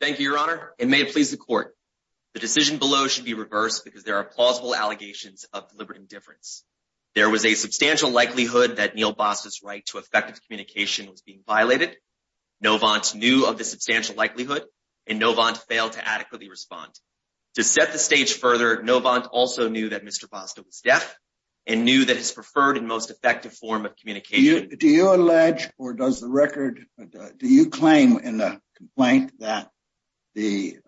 Thank you, your honor. It may please the court. The decision below should be reversed because there are plausible allegations of deliberate indifference. There was a substantial likelihood that Neil Basta's right to effective communication was being violated. Novant knew of the substantial likelihood and Novant failed to adequately respond. To set the stage further, Novant also knew that Mr. Basta was deaf and knew that his preferred and most effective form Do you allege or does the record do you claim in the complaint that the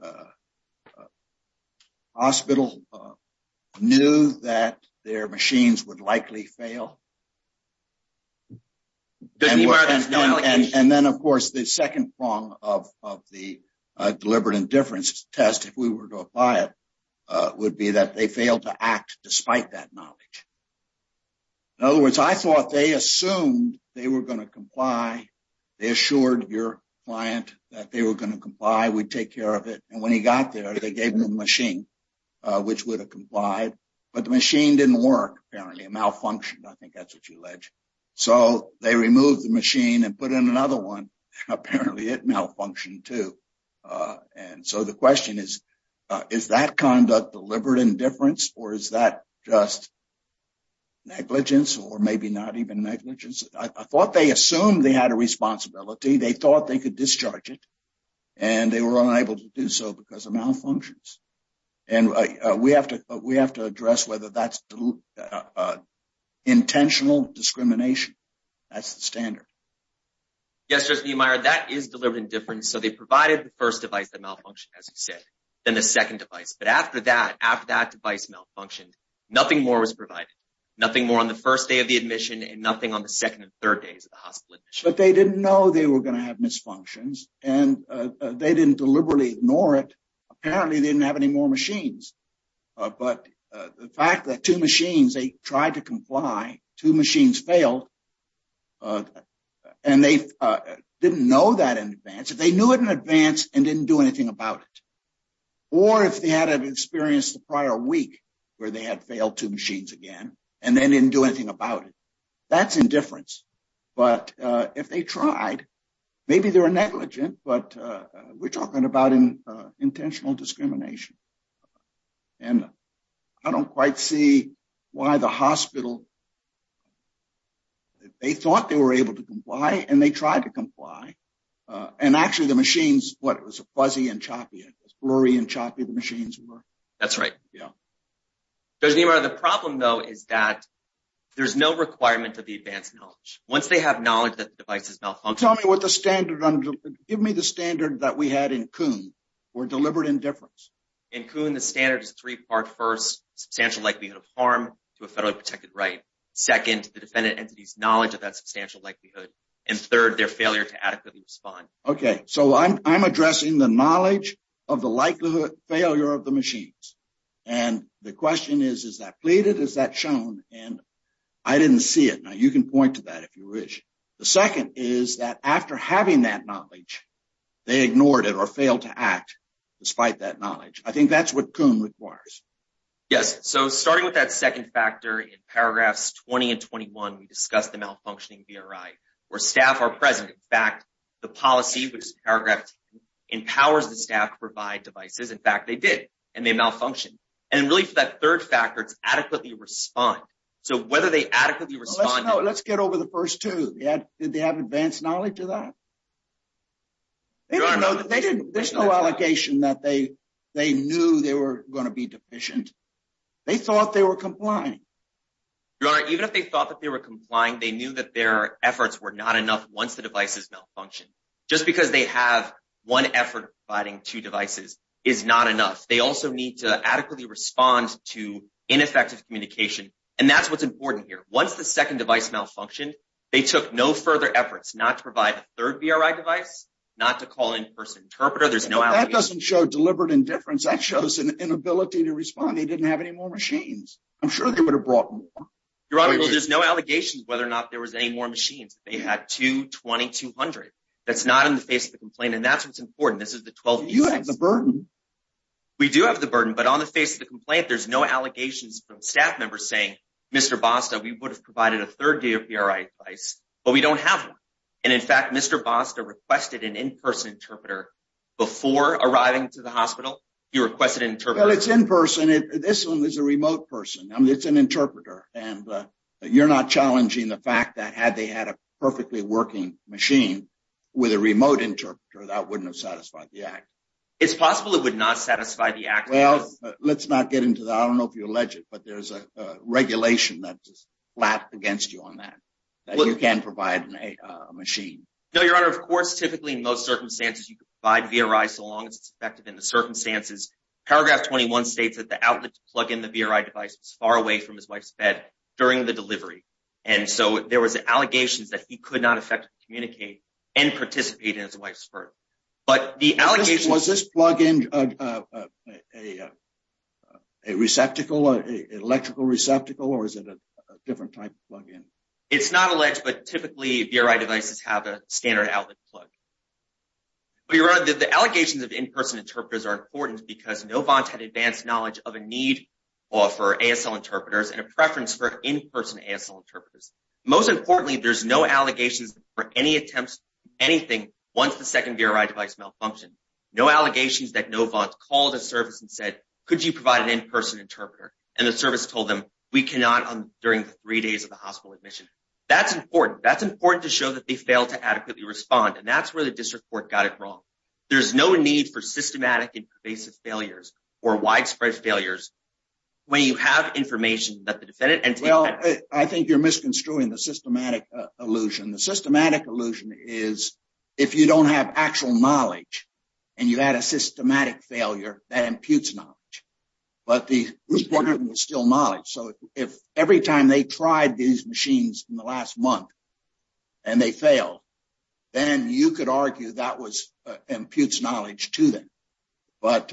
hospital knew that their machines would likely fail? And then of course the second prong of of the deliberate indifference test if we were to apply would be that they failed to act despite that knowledge. In other words, I thought they assumed they were going to comply. They assured your client that they were going to comply. We'd take care of it. And when he got there, they gave him a machine which would have complied, but the machine didn't work. Apparently it malfunctioned. I think that's what you allege. So they removed the machine and put in another one. Apparently it malfunctioned too. And so the deliberate indifference or is that just negligence or maybe not even negligence? I thought they assumed they had a responsibility. They thought they could discharge it and they were unable to do so because of malfunctions. And we have to address whether that's intentional discrimination. That's the standard. Yes, that is deliberate indifference. So they provided the first device that malfunctioned, as you said, then the second device. But after that device malfunctioned, nothing more was provided. Nothing more on the first day of the admission and nothing on the second and third days of the hospital admission. But they didn't know they were going to have misfunctions and they didn't deliberately ignore it. Apparently they didn't have any more machines. But the fact that two machines, they tried to comply, two machines failed and they didn't know that in advance. If they knew it in advance and didn't do anything about it or if they had an experience the prior week where they had failed two machines again and then didn't do anything about it, that's indifference. But if they tried, maybe they were negligent, but we're talking about intentional discrimination. And I don't quite see why the hospital, they thought they were able to comply and they tried to comply. And actually the machines, what it was a fuzzy and choppy, it was blurry and choppy, the machines were. That's right. The problem though is that there's no requirement of the advanced knowledge. Once they have knowledge that the device has malfunctioned. Give me the standard that we had in Kuhn or deliberate indifference. In Kuhn, the standard is three part. First, substantial likelihood of harm to a federally protected right. Second, the defendant entity's knowledge of that substantial likelihood. And third, their failure to adequately respond. Okay. So I'm addressing the knowledge of the likelihood failure of the machines. And the question is, is that pleaded? Is that shown? And I didn't see it. Now you can point to that if you is that after having that knowledge, they ignored it or failed to act despite that knowledge. I think that's what Kuhn requires. Yes. So starting with that second factor in paragraphs 20 and 21, we discussed the malfunctioning VRI where staff are present. In fact, the policy, which is empowers the staff to provide devices. In fact, they did and they malfunctioned. And really for that third factor, it's adequately respond. So whether they adequately respond. Let's get over the first two. Did they have advanced knowledge of that? There's no allegation that they knew they were going to be deficient. They thought they were complying. Your Honor, even if they thought that they were complying, they knew that their efforts were not enough once the devices malfunction. Just because they have one effort providing two devices is not enough. They also need to adequately respond to ineffective communication. And that's what's important here. Once the second device malfunctioned, they took no further efforts not to provide a third VRI device, not to call in person interpreter. There's no out. That doesn't show deliberate indifference. That shows an inability to respond. They didn't have any more machines. I'm sure they would have brought more. Your Honor, there's no allegations whether or not there was any more machines. They had two 2200. That's not in the face of the complaint. And that's what's important. This is the 12. You have the burden. We do have the burden, but on the face of the complaint, there's no allegations from staff members saying, Mr. Basta, we would have provided a third day of your advice, but we don't have one. And in fact, Mr. Basta requested an in-person interpreter before arriving to the hospital. You requested an interpreter. Well, it's in person. This one is a remote person. I mean, it's an interpreter. And you're not challenging the fact that had they had a perfectly working machine with a remote interpreter, that wouldn't have satisfied the act. It's possible it would not satisfy the act. Well, let's not get into that. I don't know if you allege it, but there's a regulation that's just flat against you on that. You can't provide a machine. No, Your Honor. Of course, typically in most circumstances, you could provide VRI so long as it's effective in the circumstances. Paragraph 21 states that the outlet to plug in the VRI device was far away from his wife's bed during the delivery. And so there was allegations that he could not effectively and participate in his wife's birth. But the allegations... Was this plug-in a receptacle, an electrical receptacle, or is it a different type of plug-in? It's not alleged, but typically VRI devices have a standard outlet plug. But Your Honor, the allegations of in-person interpreters are important because Novant had advanced knowledge of a need for ASL interpreters and a preference for in-person ASL interpreters. Most importantly, there's no allegations for any attempts to do anything once the second VRI device malfunctioned. No allegations that Novant called a service and said, could you provide an in-person interpreter? And the service told them we cannot during the three days of the hospital admission. That's important. That's important to show that they failed to adequately respond. And that's where the district court got it wrong. There's no need for systematic and pervasive failures or widespread failures when you have information that the defendant... I think you're misconstruing the systematic illusion. The systematic illusion is, if you don't have actual knowledge and you had a systematic failure, that imputes knowledge. But the requirement was still knowledge. So if every time they tried these machines in the last month and they failed, then you could argue that imputes knowledge to them. But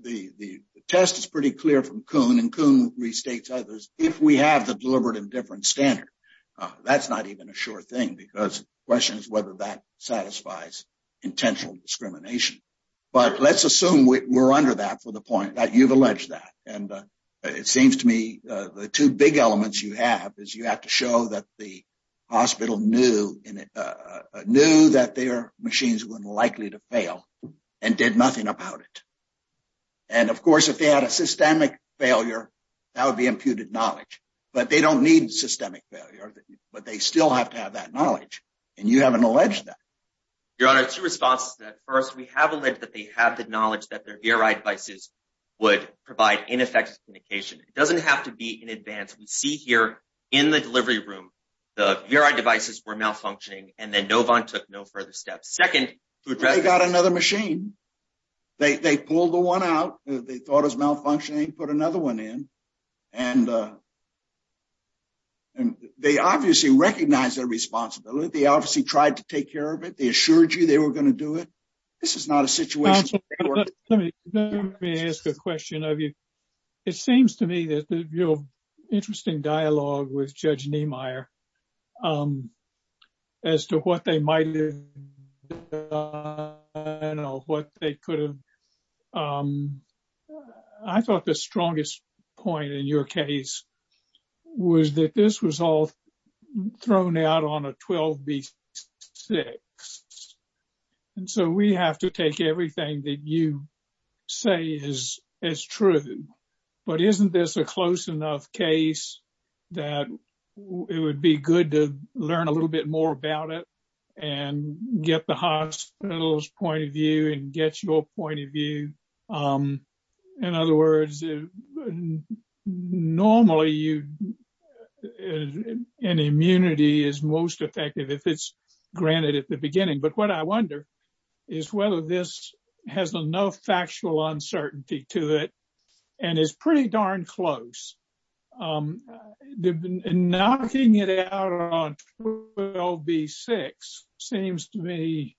the test is pretty from Kuhn and Kuhn restates others. If we have the deliberative difference standard, that's not even a sure thing because the question is whether that satisfies intentional discrimination. But let's assume we're under that for the point that you've alleged that. And it seems to me the two big elements you have is you have to show that the hospital knew that their machines were likely to fail and did nothing about it. And of course, if they had a systemic failure, that would be imputed knowledge. But they don't need systemic failure, but they still have to have that knowledge. And you haven't alleged that. Your Honor, two responses to that. First, we have alleged that they have the knowledge that their VRI devices would provide ineffective communication. It doesn't have to be in advance. We see here in the delivery room, the VRI devices were malfunctioning and then Novant took no further steps. Second- They got another machine. They pulled the one out. They thought it was malfunctioning and put another one in. And they obviously recognize their responsibility. They obviously tried to take care of it. They assured you they were going to do it. This is not a situation- Let me ask a question of you. It seems to me that your interesting dialogue with Judge Dunn on what they could have- I thought the strongest point in your case was that this was all thrown out on a 12B6. And so, we have to take everything that you say is true. But isn't this a close enough case that it would be good to learn a little bit more about it and get the hospital's point of view and get your point of view? In other words, normally, an immunity is most effective if it's granted at the beginning. But what I wonder is whether this has enough factual uncertainty to it and is pretty darn close. Knocking it out on 12B6 seems to me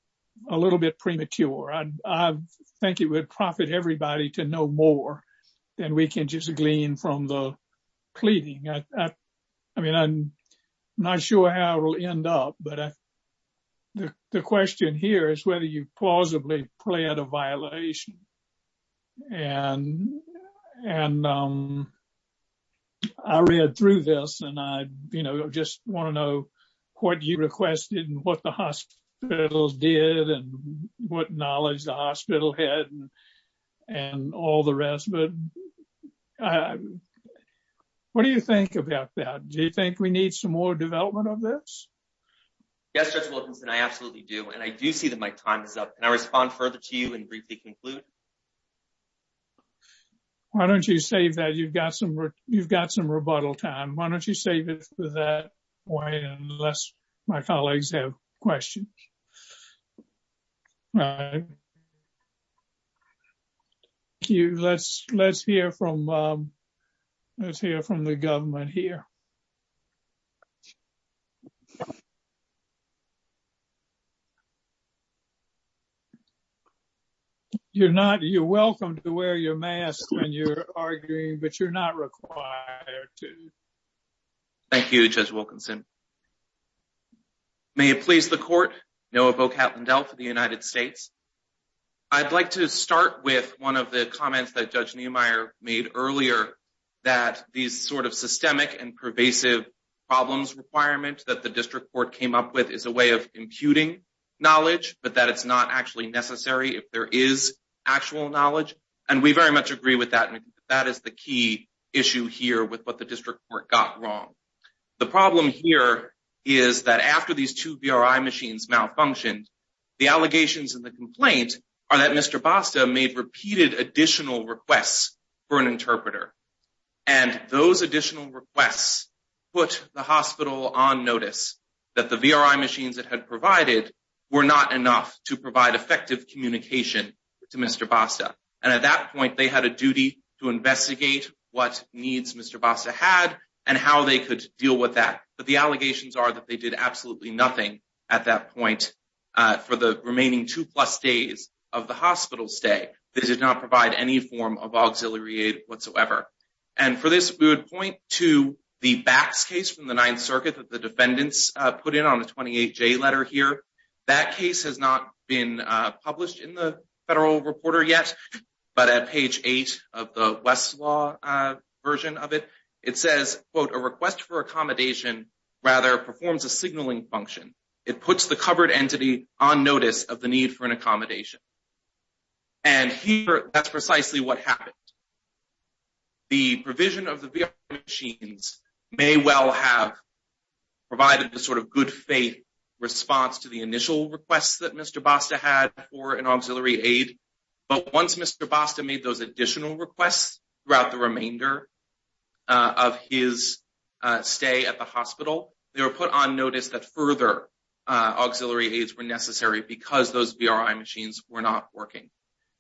a little bit premature. I think it would profit everybody to know more than we can just glean from the pleading. I mean, I'm not sure how it will end up. But the question here is whether you plausibly plead a violation. And I read through this and I just want to know what you requested and what the hospitals did and what knowledge the hospital had and all the rest. What do you think about that? Do you think we need some more development of this? Yes, Judge Wilkinson, I absolutely do. And I do see that my time is up. Can I respond further to you and briefly conclude? Why don't you save that? You've got some rebuttal time. Why don't you save it for that point unless my colleagues have questions? All right. Let's hear from the government here. You're welcome to wear your mask when you're arguing, but you're not required to. Thank you, Judge Wilkinson. May it please the court, Noah Vocatlin-Dell for the United States. I'd like to start with one of the comments that Judge Niemeyer made earlier that these sort of and pervasive problems requirements that the district court came up with is a way of imputing knowledge, but that it's not actually necessary if there is actual knowledge. And we very much agree with that. That is the key issue here with what the district court got wrong. The problem here is that after these two VRI machines malfunctioned, the allegations in the complaint are that Mr. Basta made repeated additional requests for an interpreter. And those additional requests put the hospital on notice that the VRI machines that had provided were not enough to provide effective communication to Mr. Basta. And at that point, they had a duty to investigate what needs Mr. Basta had and how they could deal with that. But the allegations are that they did absolutely nothing at that point for the remaining two plus days of the hospital stay. They did not provide any form of auxiliary aid whatsoever. And for we would point to the Bax case from the Ninth Circuit that the defendants put in on the 28J letter here. That case has not been published in the Federal Reporter yet, but at page eight of the Westlaw version of it, it says, quote, a request for accommodation rather performs a signaling function. It puts the covered entity on notice of the need for an accommodation. And here, that's precisely what happened. The provision of the VRI machines may well have provided the sort of good faith response to the initial requests that Mr. Basta had for an auxiliary aid. But once Mr. Basta made those additional requests throughout the remainder of his stay at the hospital, they were put on notice that further auxiliary aids were necessary because those VRI machines were not working.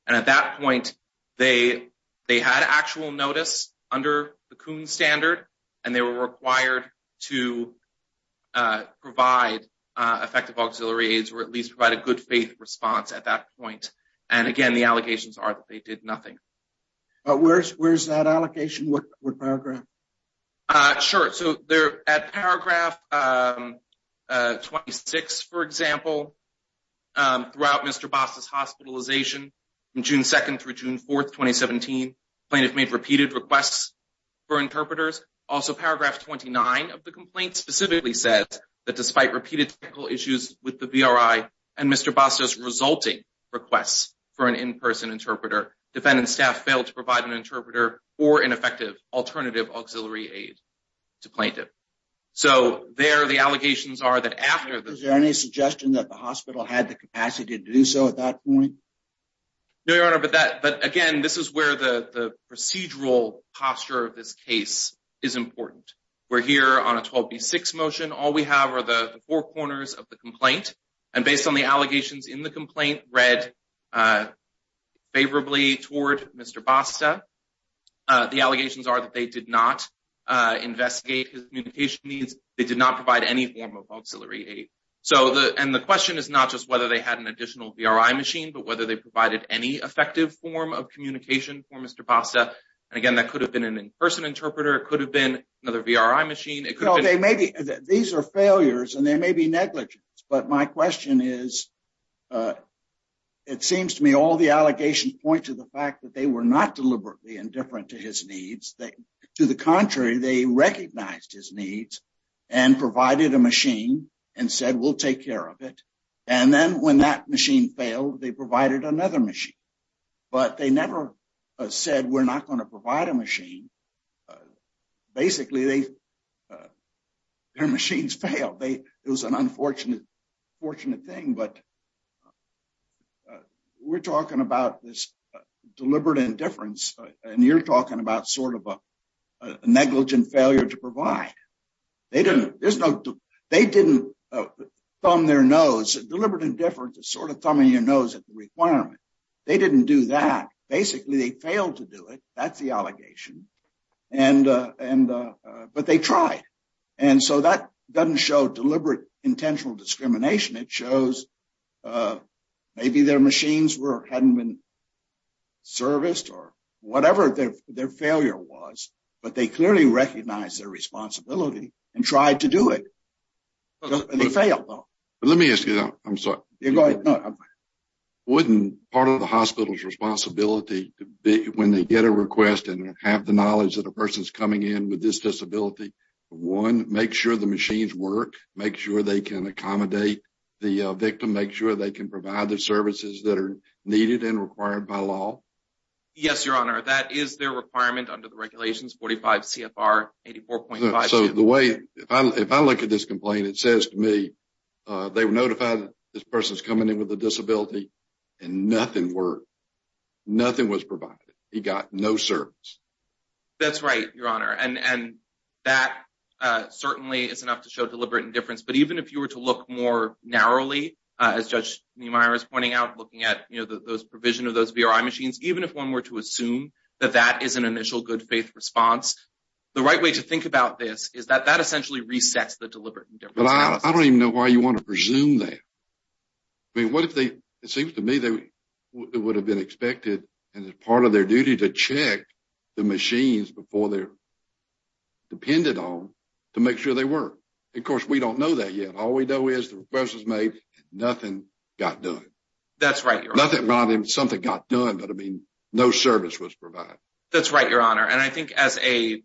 And at that point, they had actual notice under the Kuhn standard and they were required to provide effective auxiliary aids or at least provide a good faith response at that point. And again, the allegations are that they did nothing. But where's that allocation? What paragraph? Sure. So they're at paragraph 26, for example, throughout Mr. Basta's hospitalization from June 2nd through June 4th, 2017. Plaintiffs made repeated requests for interpreters. Also, paragraph 29 of the complaint specifically says that despite repeated technical issues with the VRI and Mr. Basta's resulting requests for an in-person interpreter, defendant staff failed to provide an interpreter or an effective alternative auxiliary aid to plaintiff. So there, the allegations are that after- Is there any suggestion that the hospital had the capacity to do so at that point? No, Your Honor, but again, this is where the procedural posture of this case is important. We're here on a 12B6 motion. All we have are the four corners of the complaint. And based on the allegations in the complaint read favorably toward Mr. Basta, the allegations are that they did not investigate his communication needs. They did not provide any form of auxiliary aid. And the question is not just whether they had an additional VRI machine, but whether they provided any effective form of communication for Mr. Basta. And again, that could have been an in-person interpreter. It could have been another VRI machine. It could have been- These are failures and they may be negligence, but my question is, it seems to me all the allegations point to the fact that they were not deliberately indifferent to his needs. To the contrary, they recognized his needs and provided a machine and said, we'll take care of it. And then when that machine failed, they provided another machine, but they never said, we're not going to provide a machine. And basically their machines failed. It was an unfortunate thing, but we're talking about this deliberate indifference and you're talking about sort of a negligent failure to provide. They didn't thumb their nose, deliberate indifference is sort of thumbing your nose at the requirement. They didn't do that. Basically they failed to do it. That's the thing. But they tried. And so that doesn't show deliberate intentional discrimination. It shows maybe their machines hadn't been serviced or whatever their failure was, but they clearly recognized their responsibility and tried to do it. They failed though. But let me ask you, I'm sorry. Yeah, go ahead. Wouldn't part of the hospital's responsibility when they get a request and have the knowledge that a person's coming in with this disability, one, make sure the machines work, make sure they can accommodate the victim, make sure they can provide the services that are needed and required by law. Yes, your honor. That is their requirement under the regulations, 45 CFR 84.5. So the way, if I look at this complaint, it says to me, they were notified that this person's coming in with a disability and nothing worked. Nothing was provided. He got no service. That's right, your honor. And that certainly is enough to show deliberate indifference. But even if you were to look more narrowly, as Judge Niemeyer is pointing out, looking at those provision of those VRI machines, even if one were to assume that that is an initial good faith response, the right way to think about this is that that essentially resets the deliberate indifference. I don't even know why you want to presume that. I mean, what if they, it seems to me, it would have been expected as part of their duty to check the machines before they're depended on to make sure they work. Of course, we don't know that yet. All we know is the request was made and nothing got done. That's right, your honor. Nothing got done, but I mean, no service was provided. That's right, your honor. And I think as a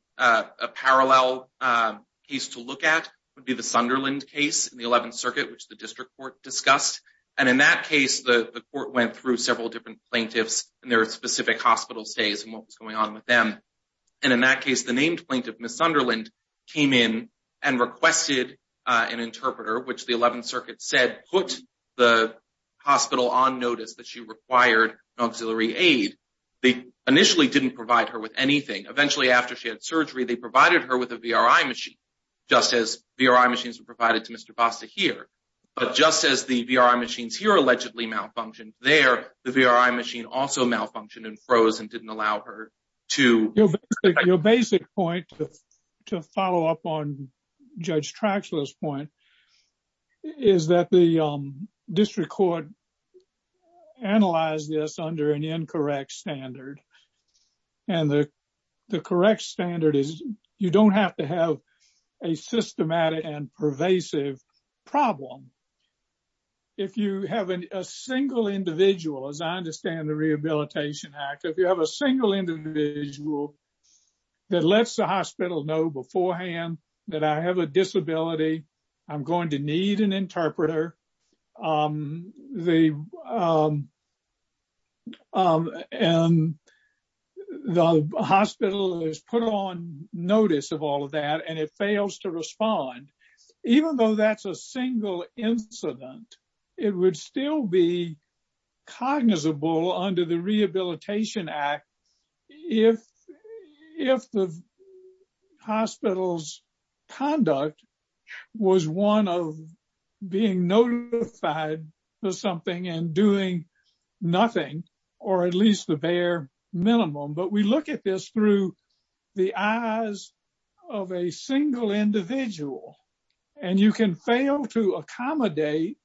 parallel case to look at would be the Sunderland case in the 11th Circuit, which the district court discussed. And in that case, the court went through several different plaintiffs and their specific hospital stays and what was going on with them. And in that case, the named plaintiff, Ms. Sunderland, came in and requested an interpreter, which the 11th Circuit said put the hospital on notice that she required an auxiliary aid. They initially didn't provide her with anything. Eventually, after she had surgery, they provided her with a VRI machine, just as VRI machines were provided to Mr. Basta here. But just as the VRI machines here allegedly malfunctioned there, the VRI machine also malfunctioned and froze and didn't allow her to- Your basic point to follow up on Judge Traxler's point is that the district court analyzed this under an incorrect standard. And the correct standard is you don't have to have a systematic and pervasive problem. If you have a single individual, as I understand the Rehabilitation Act, if you have a single individual that lets the hospital know beforehand that I have a disability, I'm going to need an VA, the hospital has put on notice of all of that and it fails to respond, even though that's a single incident, it would still be cognizable under the Rehabilitation Act if the hospital's conduct was one of being notified of something and doing nothing or at least the bare minimum. But we look at this through the eyes of a single individual and you can fail to accommodate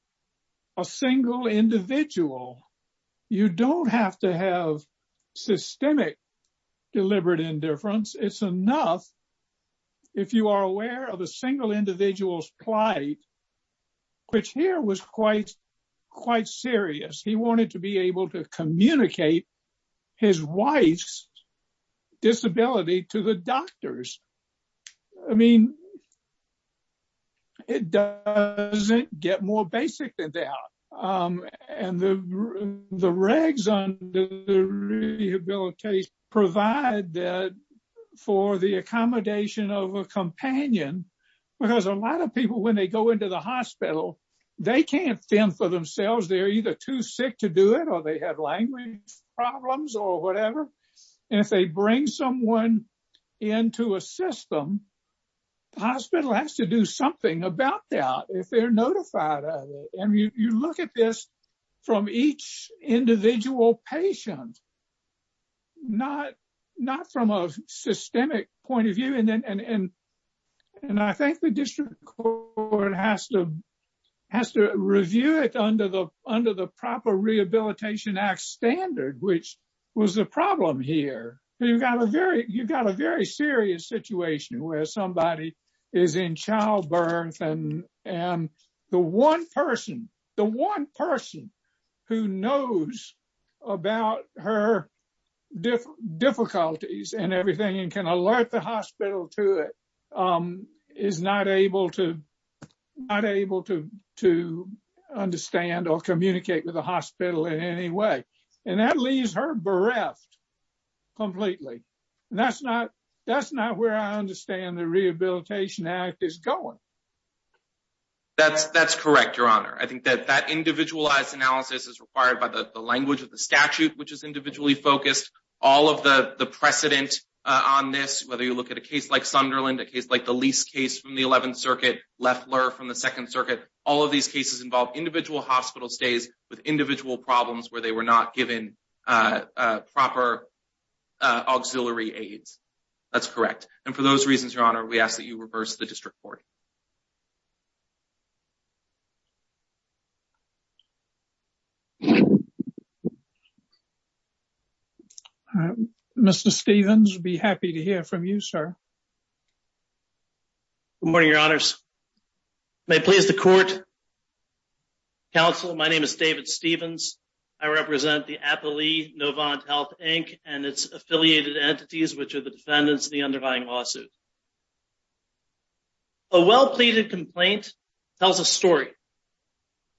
a single individual. You don't have to have systemic deliberate indifference. It's enough if you are aware of a single individual's plight, which here was quite serious. He wanted to be able to communicate his wife's disability to the doctors. I mean, it doesn't get more basic than that. And the regs on the rehabilitation provide that for the accommodation of a companion, because a lot of people, when they go into the hospital, they can't fend for themselves. They're either too sick to do it, or they have language problems or whatever. And if they bring someone into a system, the hospital has to do something about that if they're notified of it. And you look at this from each individual patient, not from a systemic point of view. And I think the district court has to review it under the proper Rehabilitation Act standard, which was the problem here. You've got a very serious situation where somebody is in childbirth, and the one person who knows about her difficulties and everything and can alert the hospital to it is not able to understand or communicate with the Rehabilitation Act is going. That's correct, Your Honor. I think that that individualized analysis is required by the language of the statute, which is individually focused. All of the precedent on this, whether you look at a case like Sunderland, a case like the Lease case from the 11th Circuit, Leffler from the 2nd Circuit, all of these cases involve individual hospital stays with individual problems where they were not given proper auxiliary aids. That's correct. And for those reasons, Your Honor, we ask that you reverse the district court. Mr. Stephens, we'd be happy to hear from you, sir. Good morning, Your Honors. May it please the court, counsel, my name is David Stephens. I represent the Appley Novant Health, Inc. and its affiliated entities, which are the defendants of the underlying lawsuit. A well-pleaded complaint tells a story,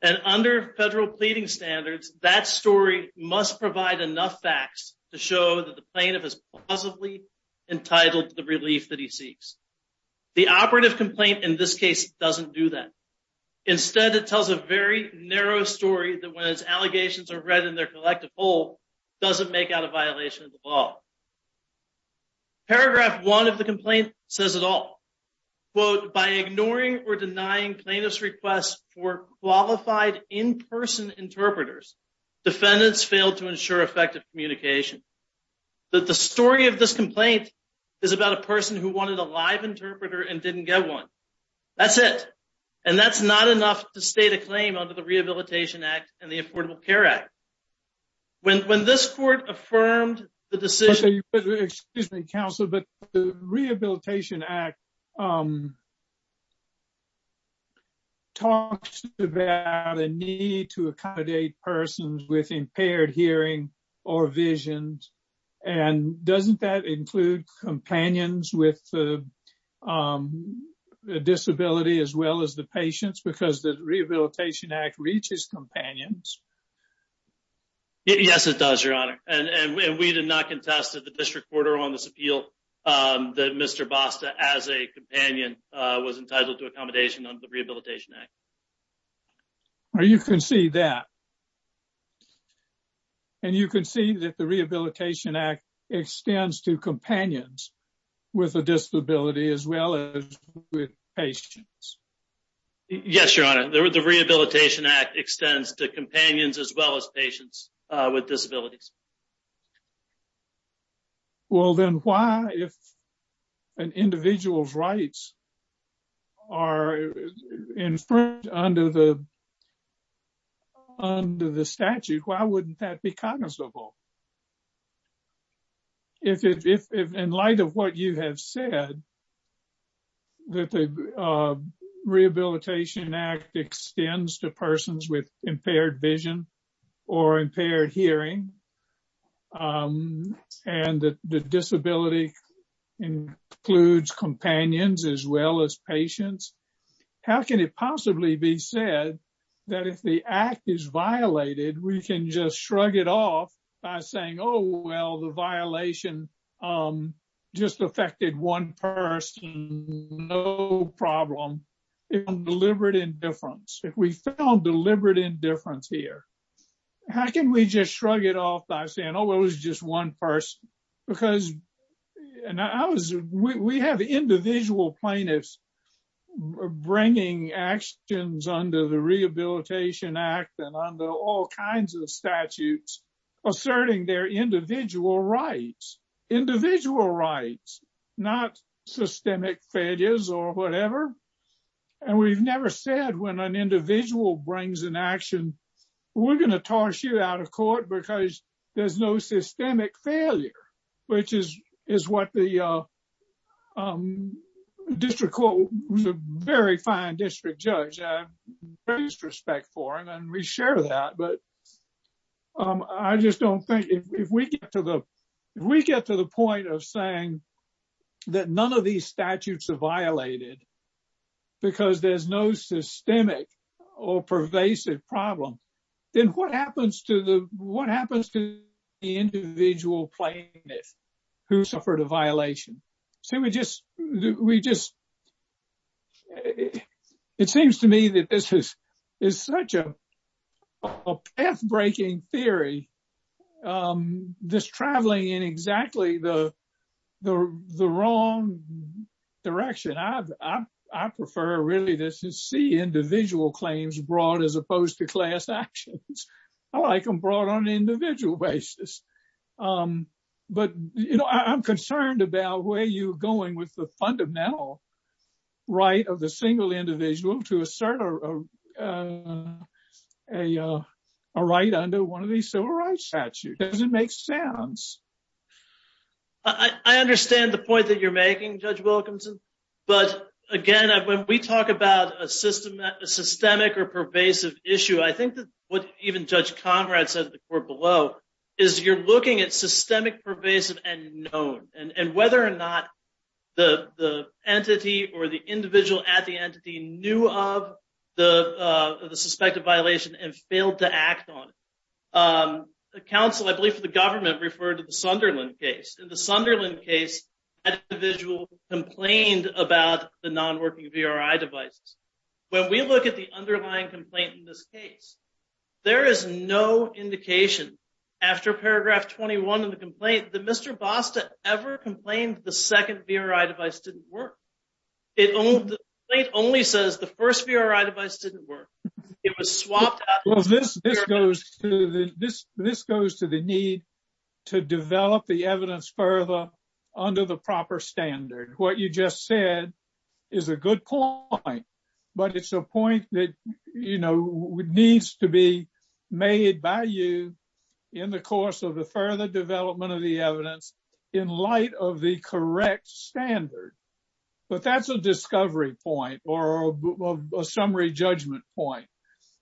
and under federal pleading standards, that story must provide enough facts to show that the plaintiff is plausibly entitled to the relief that he seeks. The operative complaint in this case doesn't do that. Instead, it tells a very narrow story that when its allegations are read in their collective whole, doesn't make out a violation of the law. Paragraph one of the complaint says it all. Quote, by ignoring or denying plaintiff's requests for qualified in-person interpreters, defendants failed to ensure effective communication. That the story of this complaint is about a person who wanted a live interpreter and didn't get one. That's it. And that's not enough to state a claim under the Rehabilitation Act and the Affordable Care Act. When this court affirmed the decision... Excuse me, counsel, but the Rehabilitation Act talks about a need to accommodate persons with impaired hearing or vision. And doesn't that include companions with a disability as well as the patients? Because the Rehabilitation Act reaches companions. Yes, it does, Your Honor. And we did not contest the district court on this appeal that Mr. Basta, as a companion, was entitled to accommodation under the Rehabilitation Act. You can see that. And you can see that the Rehabilitation Act extends to companions with a disability as well as with patients. Yes, Your Honor, the Rehabilitation Act extends to companions as well as patients with disabilities. Well, then why, if an individual's rights are infringed under the statute, why wouldn't that be cognizable? If in light of what you have said, that the Rehabilitation Act extends to persons with impaired vision or impaired hearing, and the disability includes companions as well as patients, how can it possibly be said that if the act is violated, we can just shrug it off by saying, oh, well, the violation just affected one person, no problem. If we found deliberate indifference here, how can we just shrug it off by saying, oh, it was just one person? Because we have individual plaintiffs bringing actions under the Rehabilitation Act and under all kinds of statutes, asserting their individual rights, individual rights, not systemic failures or whatever. And we've never said when an individual brings an action, we're going to toss you out of court because there's no systemic failure, which is what the district court was a very fine district judge, I have great respect for, and we share that. But I just don't think if we get to the point of saying that none of these statutes are violated because there's no systemic or pervasive problem, then what happens to the individual plaintiff who suffered a violation? It seems to me that this is such a path-breaking theory, this traveling in exactly the wrong direction. I prefer really to see individual claims brought I'm concerned about where you're going with the fundamental right of the single individual to assert a right under one of these civil rights statutes. Does it make sense? I understand the point that you're making, Judge Wilkinson. But again, when we talk about a systemic or pervasive issue, I think that what even Judge Conrad said to the court below, is you're looking at systemic, pervasive, and known, and whether or not the entity or the individual at the entity knew of the suspected violation and failed to act on it. The counsel, I believe for the government, referred to the Sunderland case. In the Sunderland case, the individual complained about the non-working VRI devices. When we look at the underlying complaint in this case, there is no indication after paragraph 21 of the complaint that Mr. Bosta ever complained the second VRI device didn't work. It only says the first VRI device didn't work. It was swapped out. This goes to the need to develop the evidence further under the proper standard. What you just said is a good point, but it's a point that needs to be made by you in the course of the further development of the evidence in light of the correct standard. But that's a discovery point, or a summary judgment point,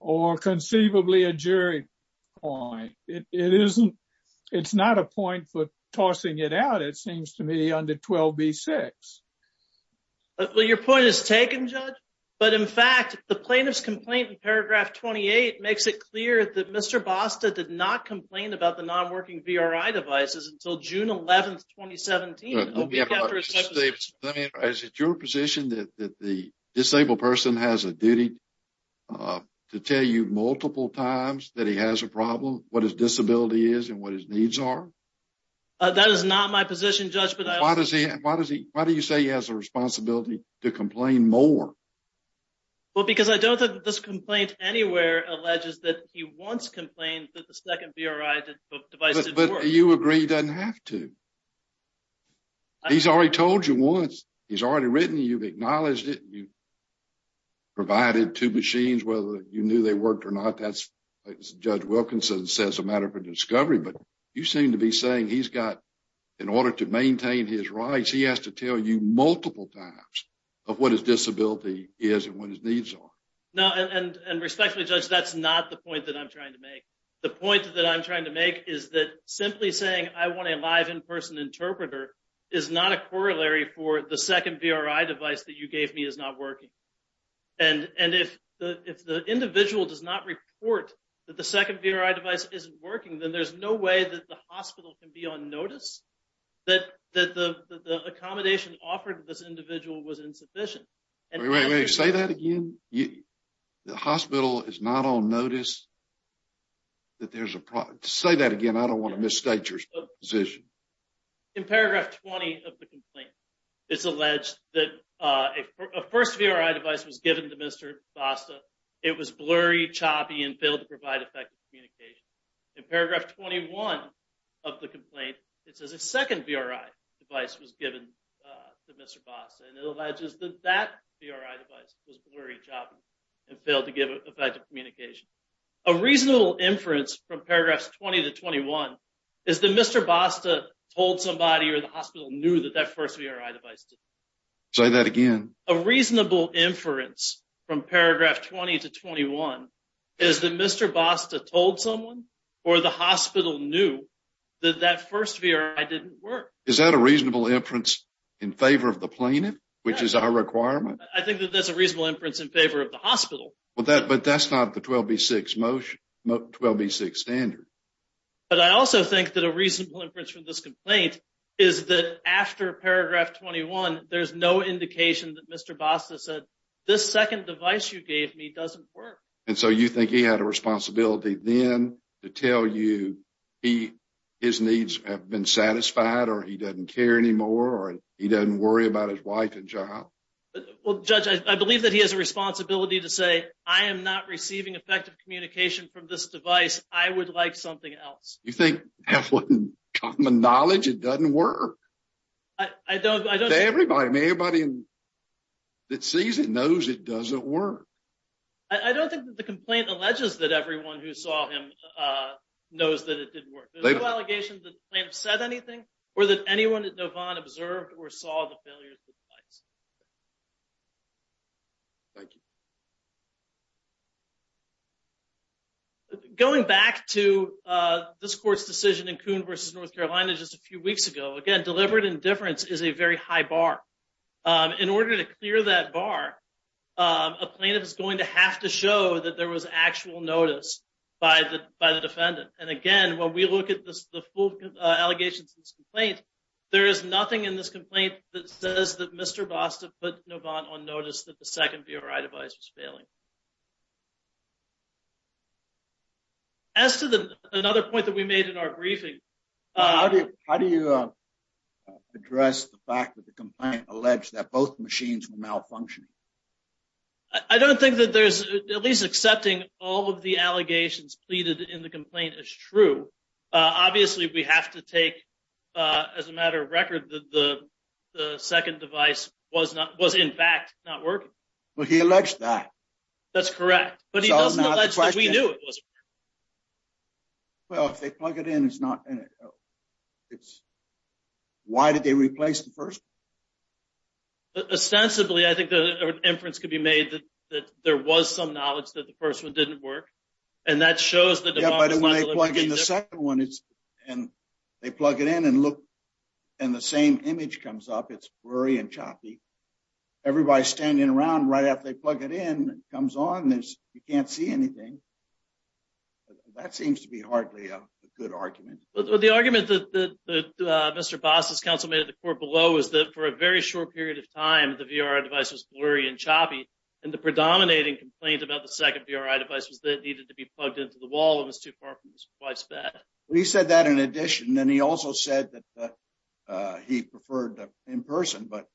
or conceivably a jury point. It isn't. It's not a point for tossing it out, it seems to me, under 12B-6. Well, your point is taken, Judge. But in fact, the plaintiff's complaint in paragraph 28 makes it clear that Mr. Bosta did not complain about the non-working VRI devices until June 11, 2017. Is it your position that the disabled person has a duty to tell you multiple times that he has a disability and what his needs are? That is not my position, Judge. Why do you say he has a responsibility to complain more? Well, because I don't think this complaint anywhere alleges that he once complained that the second VRI device didn't work. But you agree he doesn't have to. He's already told you once. He's already written. You've acknowledged it. You've provided two machines, whether you knew they worked or not. That's Judge Wilkinson says a matter for discovery. But you seem to be saying he's got, in order to maintain his rights, he has to tell you multiple times of what his disability is and what his needs are. No, and respectfully, Judge, that's not the point that I'm trying to make. The point that I'm trying to make is that simply saying I want a live in-person interpreter is not a corollary for the second VRI device that you gave me is not working. And if the individual does not report that the second VRI device isn't working, then there's no way that the hospital can be on notice that the accommodation offered to this individual was insufficient. Wait, wait, wait. Say that again? The hospital is not on notice? Say that again. I don't want to misstate your position. In paragraph 20 of the complaint, it's alleged that a first VRI device was given to Mr. Basta. It was blurry, choppy, and failed to provide effective communication. In paragraph 21 of the complaint, it says a second VRI device was given to Mr. Basta. And it alleges that that VRI device was blurry, choppy, and failed to give effective communication. A reasonable inference from paragraphs 20 to 21 is that Mr. Basta told somebody or the hospital knew that that first VRI device Say that again? A reasonable inference from paragraph 20 to 21 is that Mr. Basta told someone or the hospital knew that that first VRI device didn't work. Is that a reasonable inference in favor of the plaintiff, which is our requirement? I think that that's a reasonable inference in favor of the hospital. But that's not the 12B6 motion, 12B6 standard. But I also think that a reasonable inference from this complaint is that after paragraph 21, there's no indication that Mr. Basta said this second device you gave me doesn't work. And so you think he had a responsibility then to tell you his needs have been satisfied, or he doesn't care anymore, or he doesn't worry about his wife and child? Well, Judge, I believe that he has a responsibility to say, I am not receiving effective communication from this device. I would like something else. You think having common knowledge it doesn't work? I don't. I don't. Everybody, everybody that sees it knows it doesn't work. I don't think that the complaint alleges that everyone who saw him knows that it didn't work. There's no allegations that the plaintiff said anything, or that anyone at Novant observed or saw the failure of the device. Thank you. Going back to this court's decision in Coon v. North Carolina just a few weeks ago, again, deliberate indifference is a very high bar. In order to clear that bar, a plaintiff is going to have to show that there was actual notice by the defendant. And again, when we look at the full allegations of this complaint, put Novant on notice that the second VRI device was failing. As to another point that we made in our briefing. How do you address the fact that the complaint alleged that both machines were malfunctioning? I don't think that there's at least accepting all of the allegations pleaded in the complaint is true. Obviously, we have to take, as a matter of record, that the second device was in fact not working. Well, he alleged that. That's correct. But he doesn't allege that we knew it wasn't working. Well, if they plug it in, it's not in it. Why did they replace the first? Ostensibly, I think the inference could be made that there was some knowledge that the first one didn't work. And that shows that the second one is, and they plug it in and look, and the same image comes up, it's blurry and choppy. Everybody's standing around right after they plug it in, comes on, you can't see anything. That seems to be hardly a good argument. The argument that Mr. Boss' counsel made at the court below is that for a very short period of time, the VRI device was blurry and choppy. And the predominating complaint about the second device was that it needed to be plugged into the wall and was too far from his wife's bed. Well, he said that in addition, and he also said that he preferred in person. But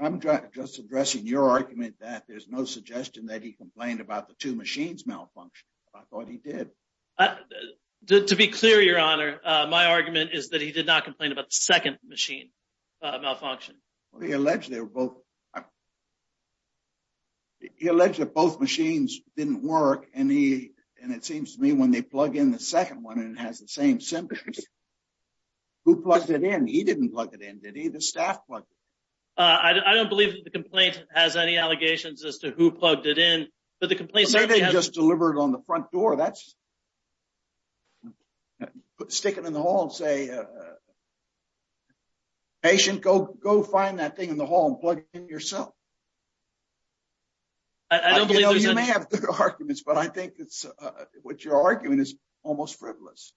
I'm just addressing your argument that there's no suggestion that he complained about the two machines malfunction. I thought he did. To be clear, Your Honor, my argument is that he did not complain about the second machine malfunction. Well, he alleged that both machines didn't work. And it seems to me when they plug in the second one and it has the same symptoms, who plugged it in? He didn't plug it in, did he? The staff plugged it in. I don't believe that the complaint has any allegations as to who plugged it in. But they just delivered on the front door. That's sticking in the hall and say, patient, go find that thing in the hall and plug it in yourself. I don't believe there's any... You may have other arguments, but I think what you're arguing is almost frivolous.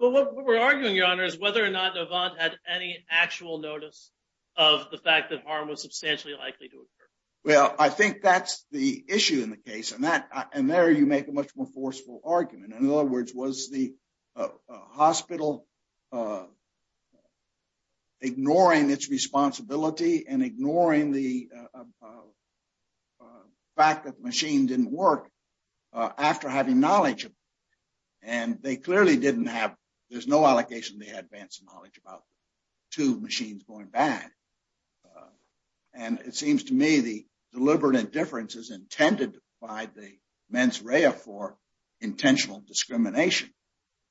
Well, what we're arguing, Your Honor, is whether or not Navant had any actual notice of the fact that harm was substantially likely to occur. Well, I think that's the issue in the case. And there you make a much more forceful argument. In other words, was the hospital ignoring its responsibility and ignoring the fact that the machine didn't work after having knowledge? And they clearly didn't have... There's no allegation they had advanced knowledge about two machines going bad. And it seems to me the deliberate indifference is intended by the discrimination.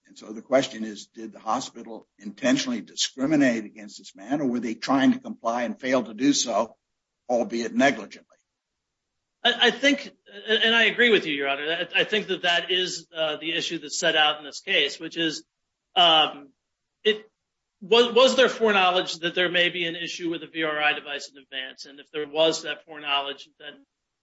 And so the question is, did the hospital intentionally discriminate against this man or were they trying to comply and fail to do so, albeit negligently? And I agree with you, Your Honor. I think that that is the issue that's set out in this case, which is, was there foreknowledge that there may be an issue with the VRI device in advance? And if there was that foreknowledge,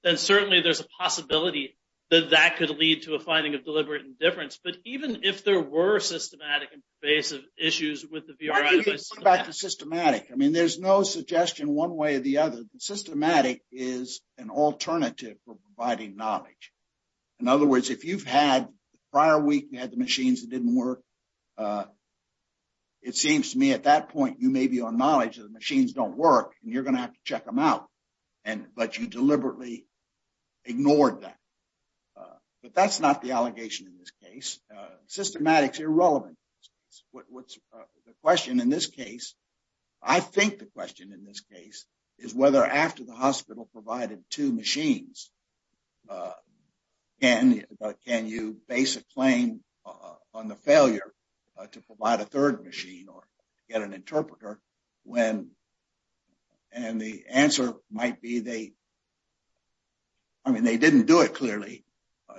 then certainly there's a possibility that that would lead to a finding of deliberate indifference. But even if there were systematic and pervasive issues with the VRI device... Why don't you go back to systematic? I mean, there's no suggestion one way or the other. Systematic is an alternative for providing knowledge. In other words, if you've had... The prior week, you had the machines that didn't work. It seems to me at that point, you may be on knowledge that the machines don't work and you're going to have to check them out, but you deliberately ignored that. But that's not the allegation in this case. Systematic is irrelevant. The question in this case, I think the question in this case, is whether after the hospital provided two machines, can you base a claim on the failure to provide a third machine or get an interpreter when... And the answer might be they... I mean, they didn't do it clearly.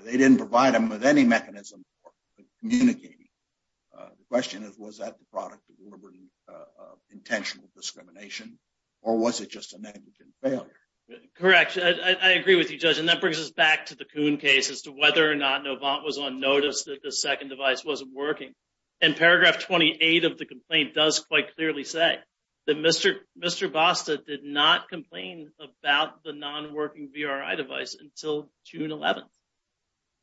They didn't provide them with any mechanism for communicating. The question is, was that the product of intentional discrimination or was it just a negligent failure? Correct. I agree with you, Judge. And that brings us back to the Kuhn case as to whether or not Novant was on notice that the second device wasn't working. And paragraph 28 of the complaint does quite clearly say that Mr. Basta did not complain about the non-working VRI device until June 11th.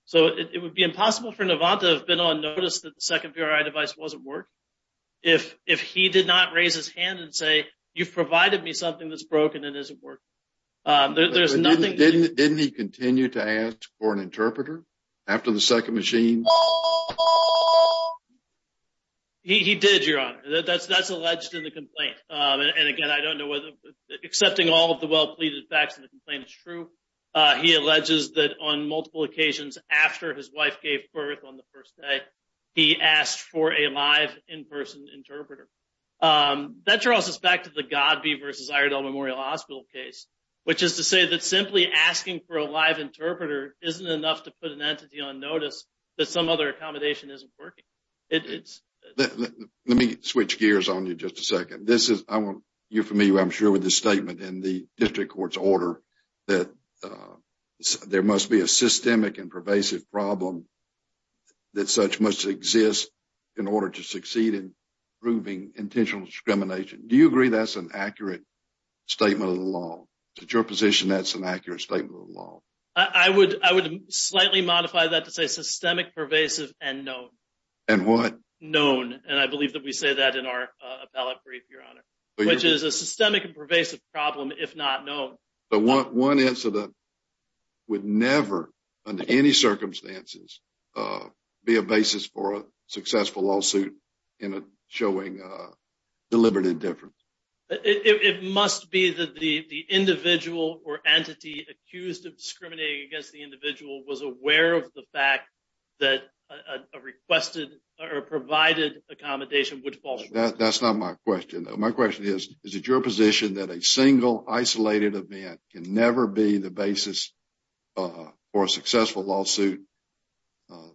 So, it would be impossible for Novant to have been on notice that the second VRI device wasn't working if he did not raise his hand and say, you've provided me something that's broken and isn't working. There's nothing... Didn't he continue to ask for an interpreter after the second machine? He did, Your Honor. That's alleged in the complaint. And again, I don't know whether... Accepting all of the well-pleaded facts in the complaint is true. He alleges that on multiple occasions after his wife gave birth on the first day, he asked for a live in-person interpreter. That draws us back to the Godby versus Iredell Memorial Hospital case, which is to say that asking for a live interpreter isn't enough to put an entity on notice that some other accommodation isn't working. Let me switch gears on you just a second. You're familiar, I'm sure, with this statement in the district court's order that there must be a systemic and pervasive problem that such must exist in order to succeed in proving intentional discrimination. Do you agree that's an accurate statement of the law? Is it your position that's an accurate statement of the law? I would slightly modify that to say systemic, pervasive, and known. And what? Known. And I believe that we say that in our appellate brief, Your Honor, which is a systemic and pervasive problem, if not known. But one incident would never, under any circumstances, be a basis for a successful in a showing a deliberate indifference. It must be that the individual or entity accused of discriminating against the individual was aware of the fact that a requested or provided accommodation would fall short. That's not my question. My question is, is it your position that a single isolated event can never be the basis for a successful lawsuit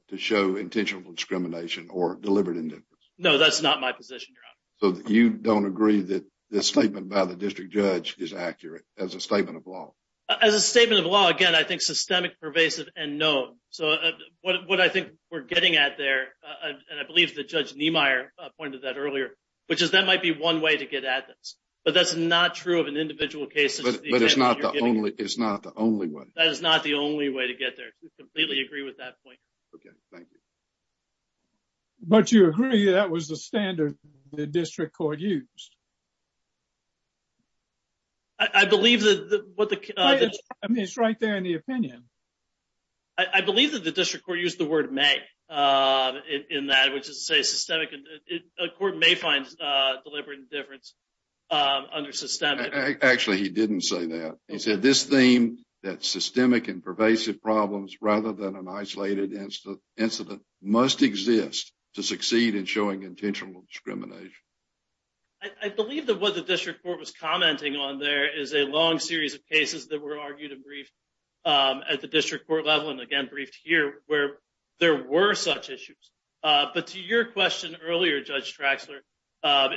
to show intentional discrimination or deliberate indifference? No, that's not my position, Your Honor. So you don't agree that this statement by the district judge is accurate as a statement of law? As a statement of law, again, I think systemic, pervasive, and known. So what I think we're getting at there, and I believe that Judge Niemeyer pointed that earlier, which is that might be one way to get at this. But that's not true of an individual case. But it's not the only way. It's not the only way. We completely agree with that point. Okay, thank you. But you agree that was the standard the district court used? I believe that what the... I mean, it's right there in the opinion. I believe that the district court used the word may in that, which is to say systemic. A court may find deliberate indifference under systemic... rather than an isolated incident must exist to succeed in showing intentional discrimination. I believe that what the district court was commenting on there is a long series of cases that were argued and briefed at the district court level, and again, briefed here, where there were such issues. But to your question earlier, Judge Traxler,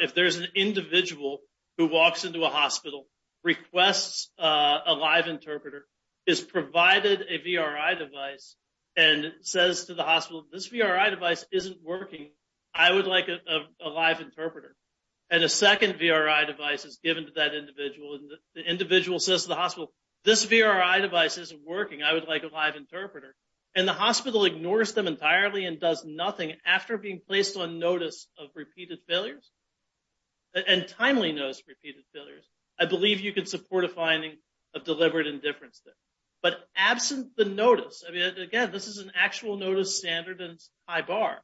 if there's an individual who walks into a hospital, requests a live interpreter, is provided a VRI device, and says to the hospital, this VRI device isn't working, I would like a live interpreter. And a second VRI device is given to that individual, and the individual says to the hospital, this VRI device isn't working, I would like a live interpreter. And the hospital ignores them entirely and does nothing after being placed on notice of repeated failures, and timely notice of repeated failures. I believe you support a finding of deliberate indifference there. But absent the notice, again, this is an actual notice standard and high bar,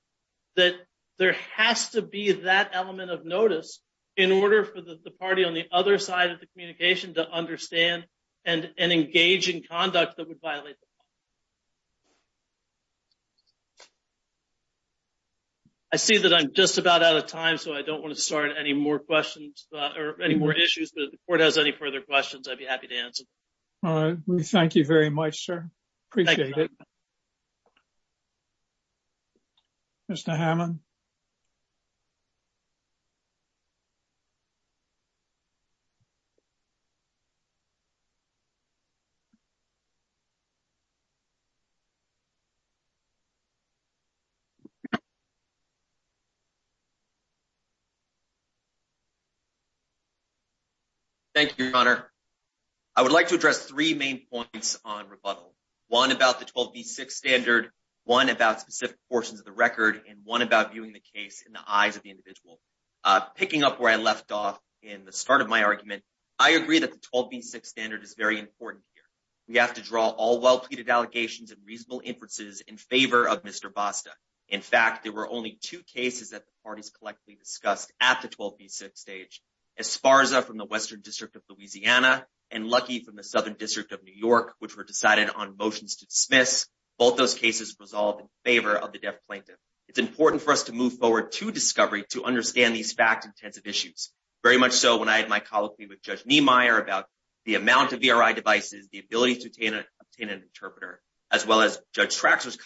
that there has to be that element of notice in order for the party on the other side of the communication to understand and engage in conduct that would violate the law. I see that I'm just about out of time, so I don't want to start any more questions or any more issues, but if the court has any further questions, I'd be happy to answer. All right. We thank you very much, sir. Appreciate it. Mr. Hammond? Thank you, Your Honor. I would like to address three main points on rebuttal, one about the 12B6 standard, one about specific portions of the record, and one about viewing the case in the eyes of the individual. Picking up where I left off in the start of my argument, I agree that the 12B6 standard is very important here. We have to draw all well-pleaded allegations and reasonable inferences in favor of Mr. Basta. In fact, there were only two cases that the parties collectively discussed at the 12B6 stage, Esparza from the Western District of Louisiana and Lucky from the Southern District of New York, which were decided on motions to dismiss. Both those cases resolved in favor of the deaf plaintiff. It's important for us to move forward to discovery to understand these fact-intensive issues, very much so when I had my colloquy with Judge Niemeyer about the amount of VRI devices, the ability to obtain an interpreter, as well as Judge Traxler's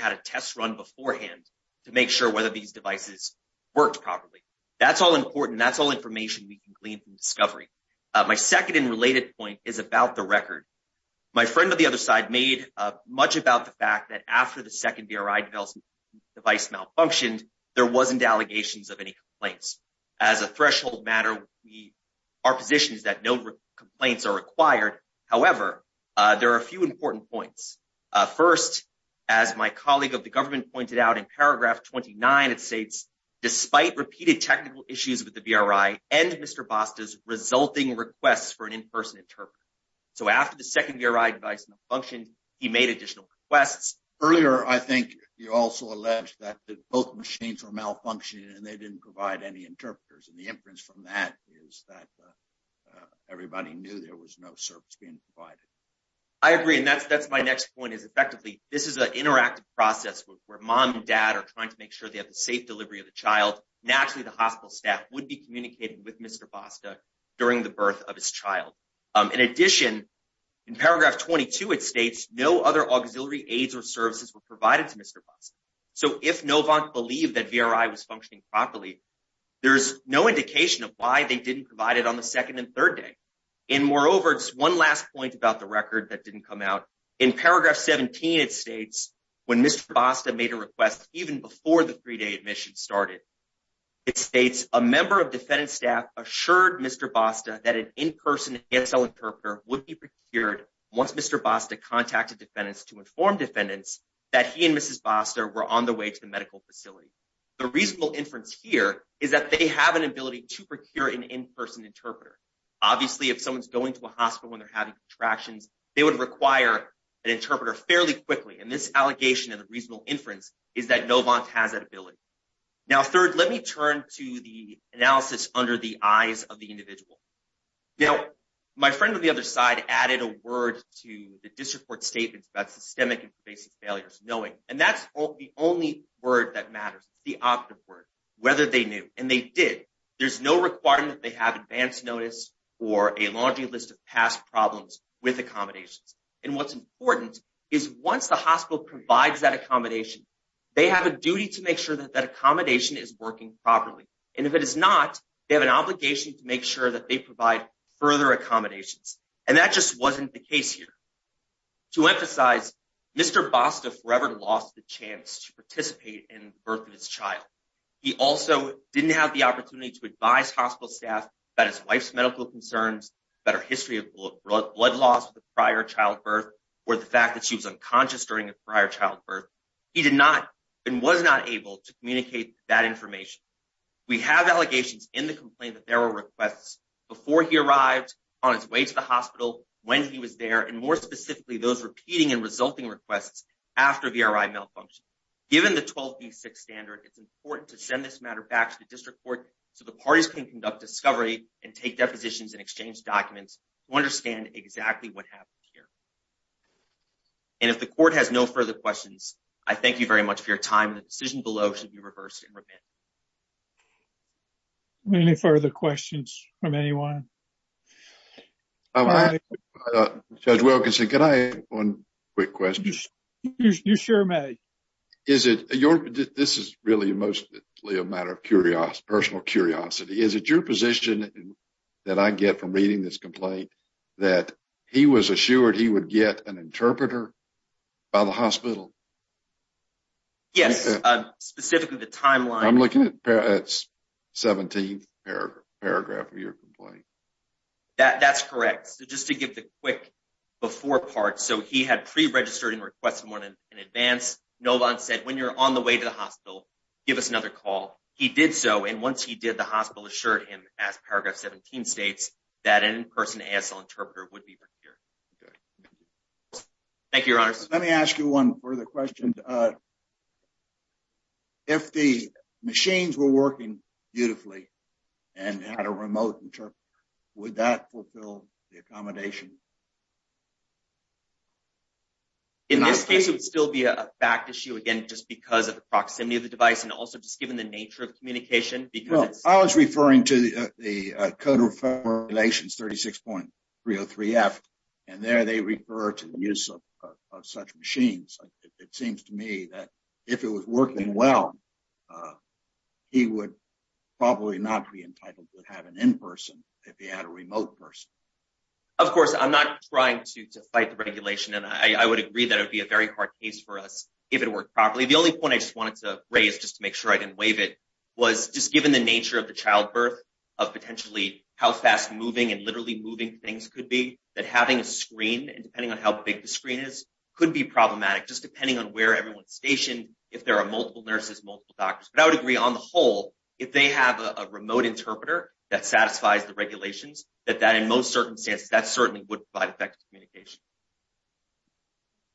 had a test run beforehand to make sure whether these devices worked properly. That's all important. That's all information we can glean from discovery. My second and related point is about the record. My friend on the other side made much about the fact that after the second VRI device malfunctioned, there wasn't allegations of any complaints. As a threshold matter, our position is that no complaints are required. However, there are a few important points. First, as my colleague of the government pointed out in paragraph 29, it states, despite repeated technical issues with the VRI and Mr. Basta's resulting requests for an in-person interpreter. After the second VRI device malfunctioned, he made additional requests. Earlier, I think you also alleged that both machines were malfunctioning and they didn't provide any interpreters. The inference from that is that everybody knew there was no service being provided. I agree. That's my next point. Effectively, this is an interactive process where mom and dad are trying to make sure they have the safe delivery of the child. Naturally, the hospital staff would be communicating with Mr. Basta during the birth of his child. In addition, in paragraph 22, it states, no other auxiliary aids or services were provided to Mr. Basta. If Novant believed that VRI was functioning properly, there's no indication of why they didn't provide it on the second and third day. Moreover, it's one last point about the record that didn't come out. In paragraph 17, it states, when Mr. Basta made a request even before the three-day admission started, it states, a member of defendant staff assured Mr. Basta that an in-person ASL interpreter would be procured once Mr. Basta contacted defendants to inform defendants that he and Mrs. Basta were on the way to the medical facility. The reasonable inference here is that they have an ability to procure an in-person interpreter. Obviously, if someone's going to a hospital and they're having contractions, they would require an interpreter fairly quickly. This allegation and the reasonable inference is that Novant has that ability. Now, third, let me turn to the analysis under the eyes of the individual. Now, my friend on the other side added a word to the district court statements about systemic and basic failures, knowing. That's the only word that matters, the operative word, whether they knew, and they did. There's no requirement that they have advanced notice or a laundry list of past problems with accommodations. What's important is once the hospital provides that accommodation, they have a duty to make sure that that accommodation is working properly. If it is not, they have an obligation to make sure that they provide further accommodations. That just wasn't the case here. To emphasize, Mr. Basta forever lost the chance to participate in the birth of his child. He also didn't have the opportunity to advise hospital staff about his wife's medical concerns, about her history of blood loss with a prior childbirth, or the fact that she was unconscious during a prior childbirth. He did not and was not able to communicate that information. We have allegations in the complaint that there were requests before he arrived on his way to the hospital, and more specifically, those repeating and resulting requests after VRI malfunction. Given the 12B6 standard, it's important to send this matter back to the district court so the parties can conduct discovery and take depositions and exchange documents to understand exactly what happened here. And if the court has no further questions, I thank you very much for your time. The decision below should be reversed and revamped. Any further questions from anyone? One quick question. You sure may. This is really mostly a matter of personal curiosity. Is it your position that I get from reading this complaint that he was assured he would get an interpreter by the hospital? Yes, specifically the timeline. I'm looking at 17th paragraph of your complaint. That's correct. So just to give the quick before part, so he had pre-registered and requested one in advance. Nolan said, when you're on the way to the hospital, give us another call. He did so, and once he did, the hospital assured him, as paragraph 17 states, that an in-person ASL interpreter would be procured. Thank you, your honors. Let me ask you one further question. If the machines were working beautifully and had a remote interpreter, would that fulfill the accommodation? In this case, it would still be a fact issue, again, just because of the proximity of the device and also just given the nature of communication. I was referring to the if it was working well, he would probably not be entitled to have an in-person if he had a remote person. Of course, I'm not trying to fight the regulation, and I would agree that it would be a very hard case for us if it worked properly. The only point I just wanted to raise, just to make sure I didn't waive it, was just given the nature of the childbirth, of potentially how fast moving and literally moving things could be, that having a screen, and depending on how big the station, if there are multiple nurses, multiple doctors, but I would agree on the whole, if they have a remote interpreter that satisfies the regulations, that in most circumstances, that certainly would provide effective communication.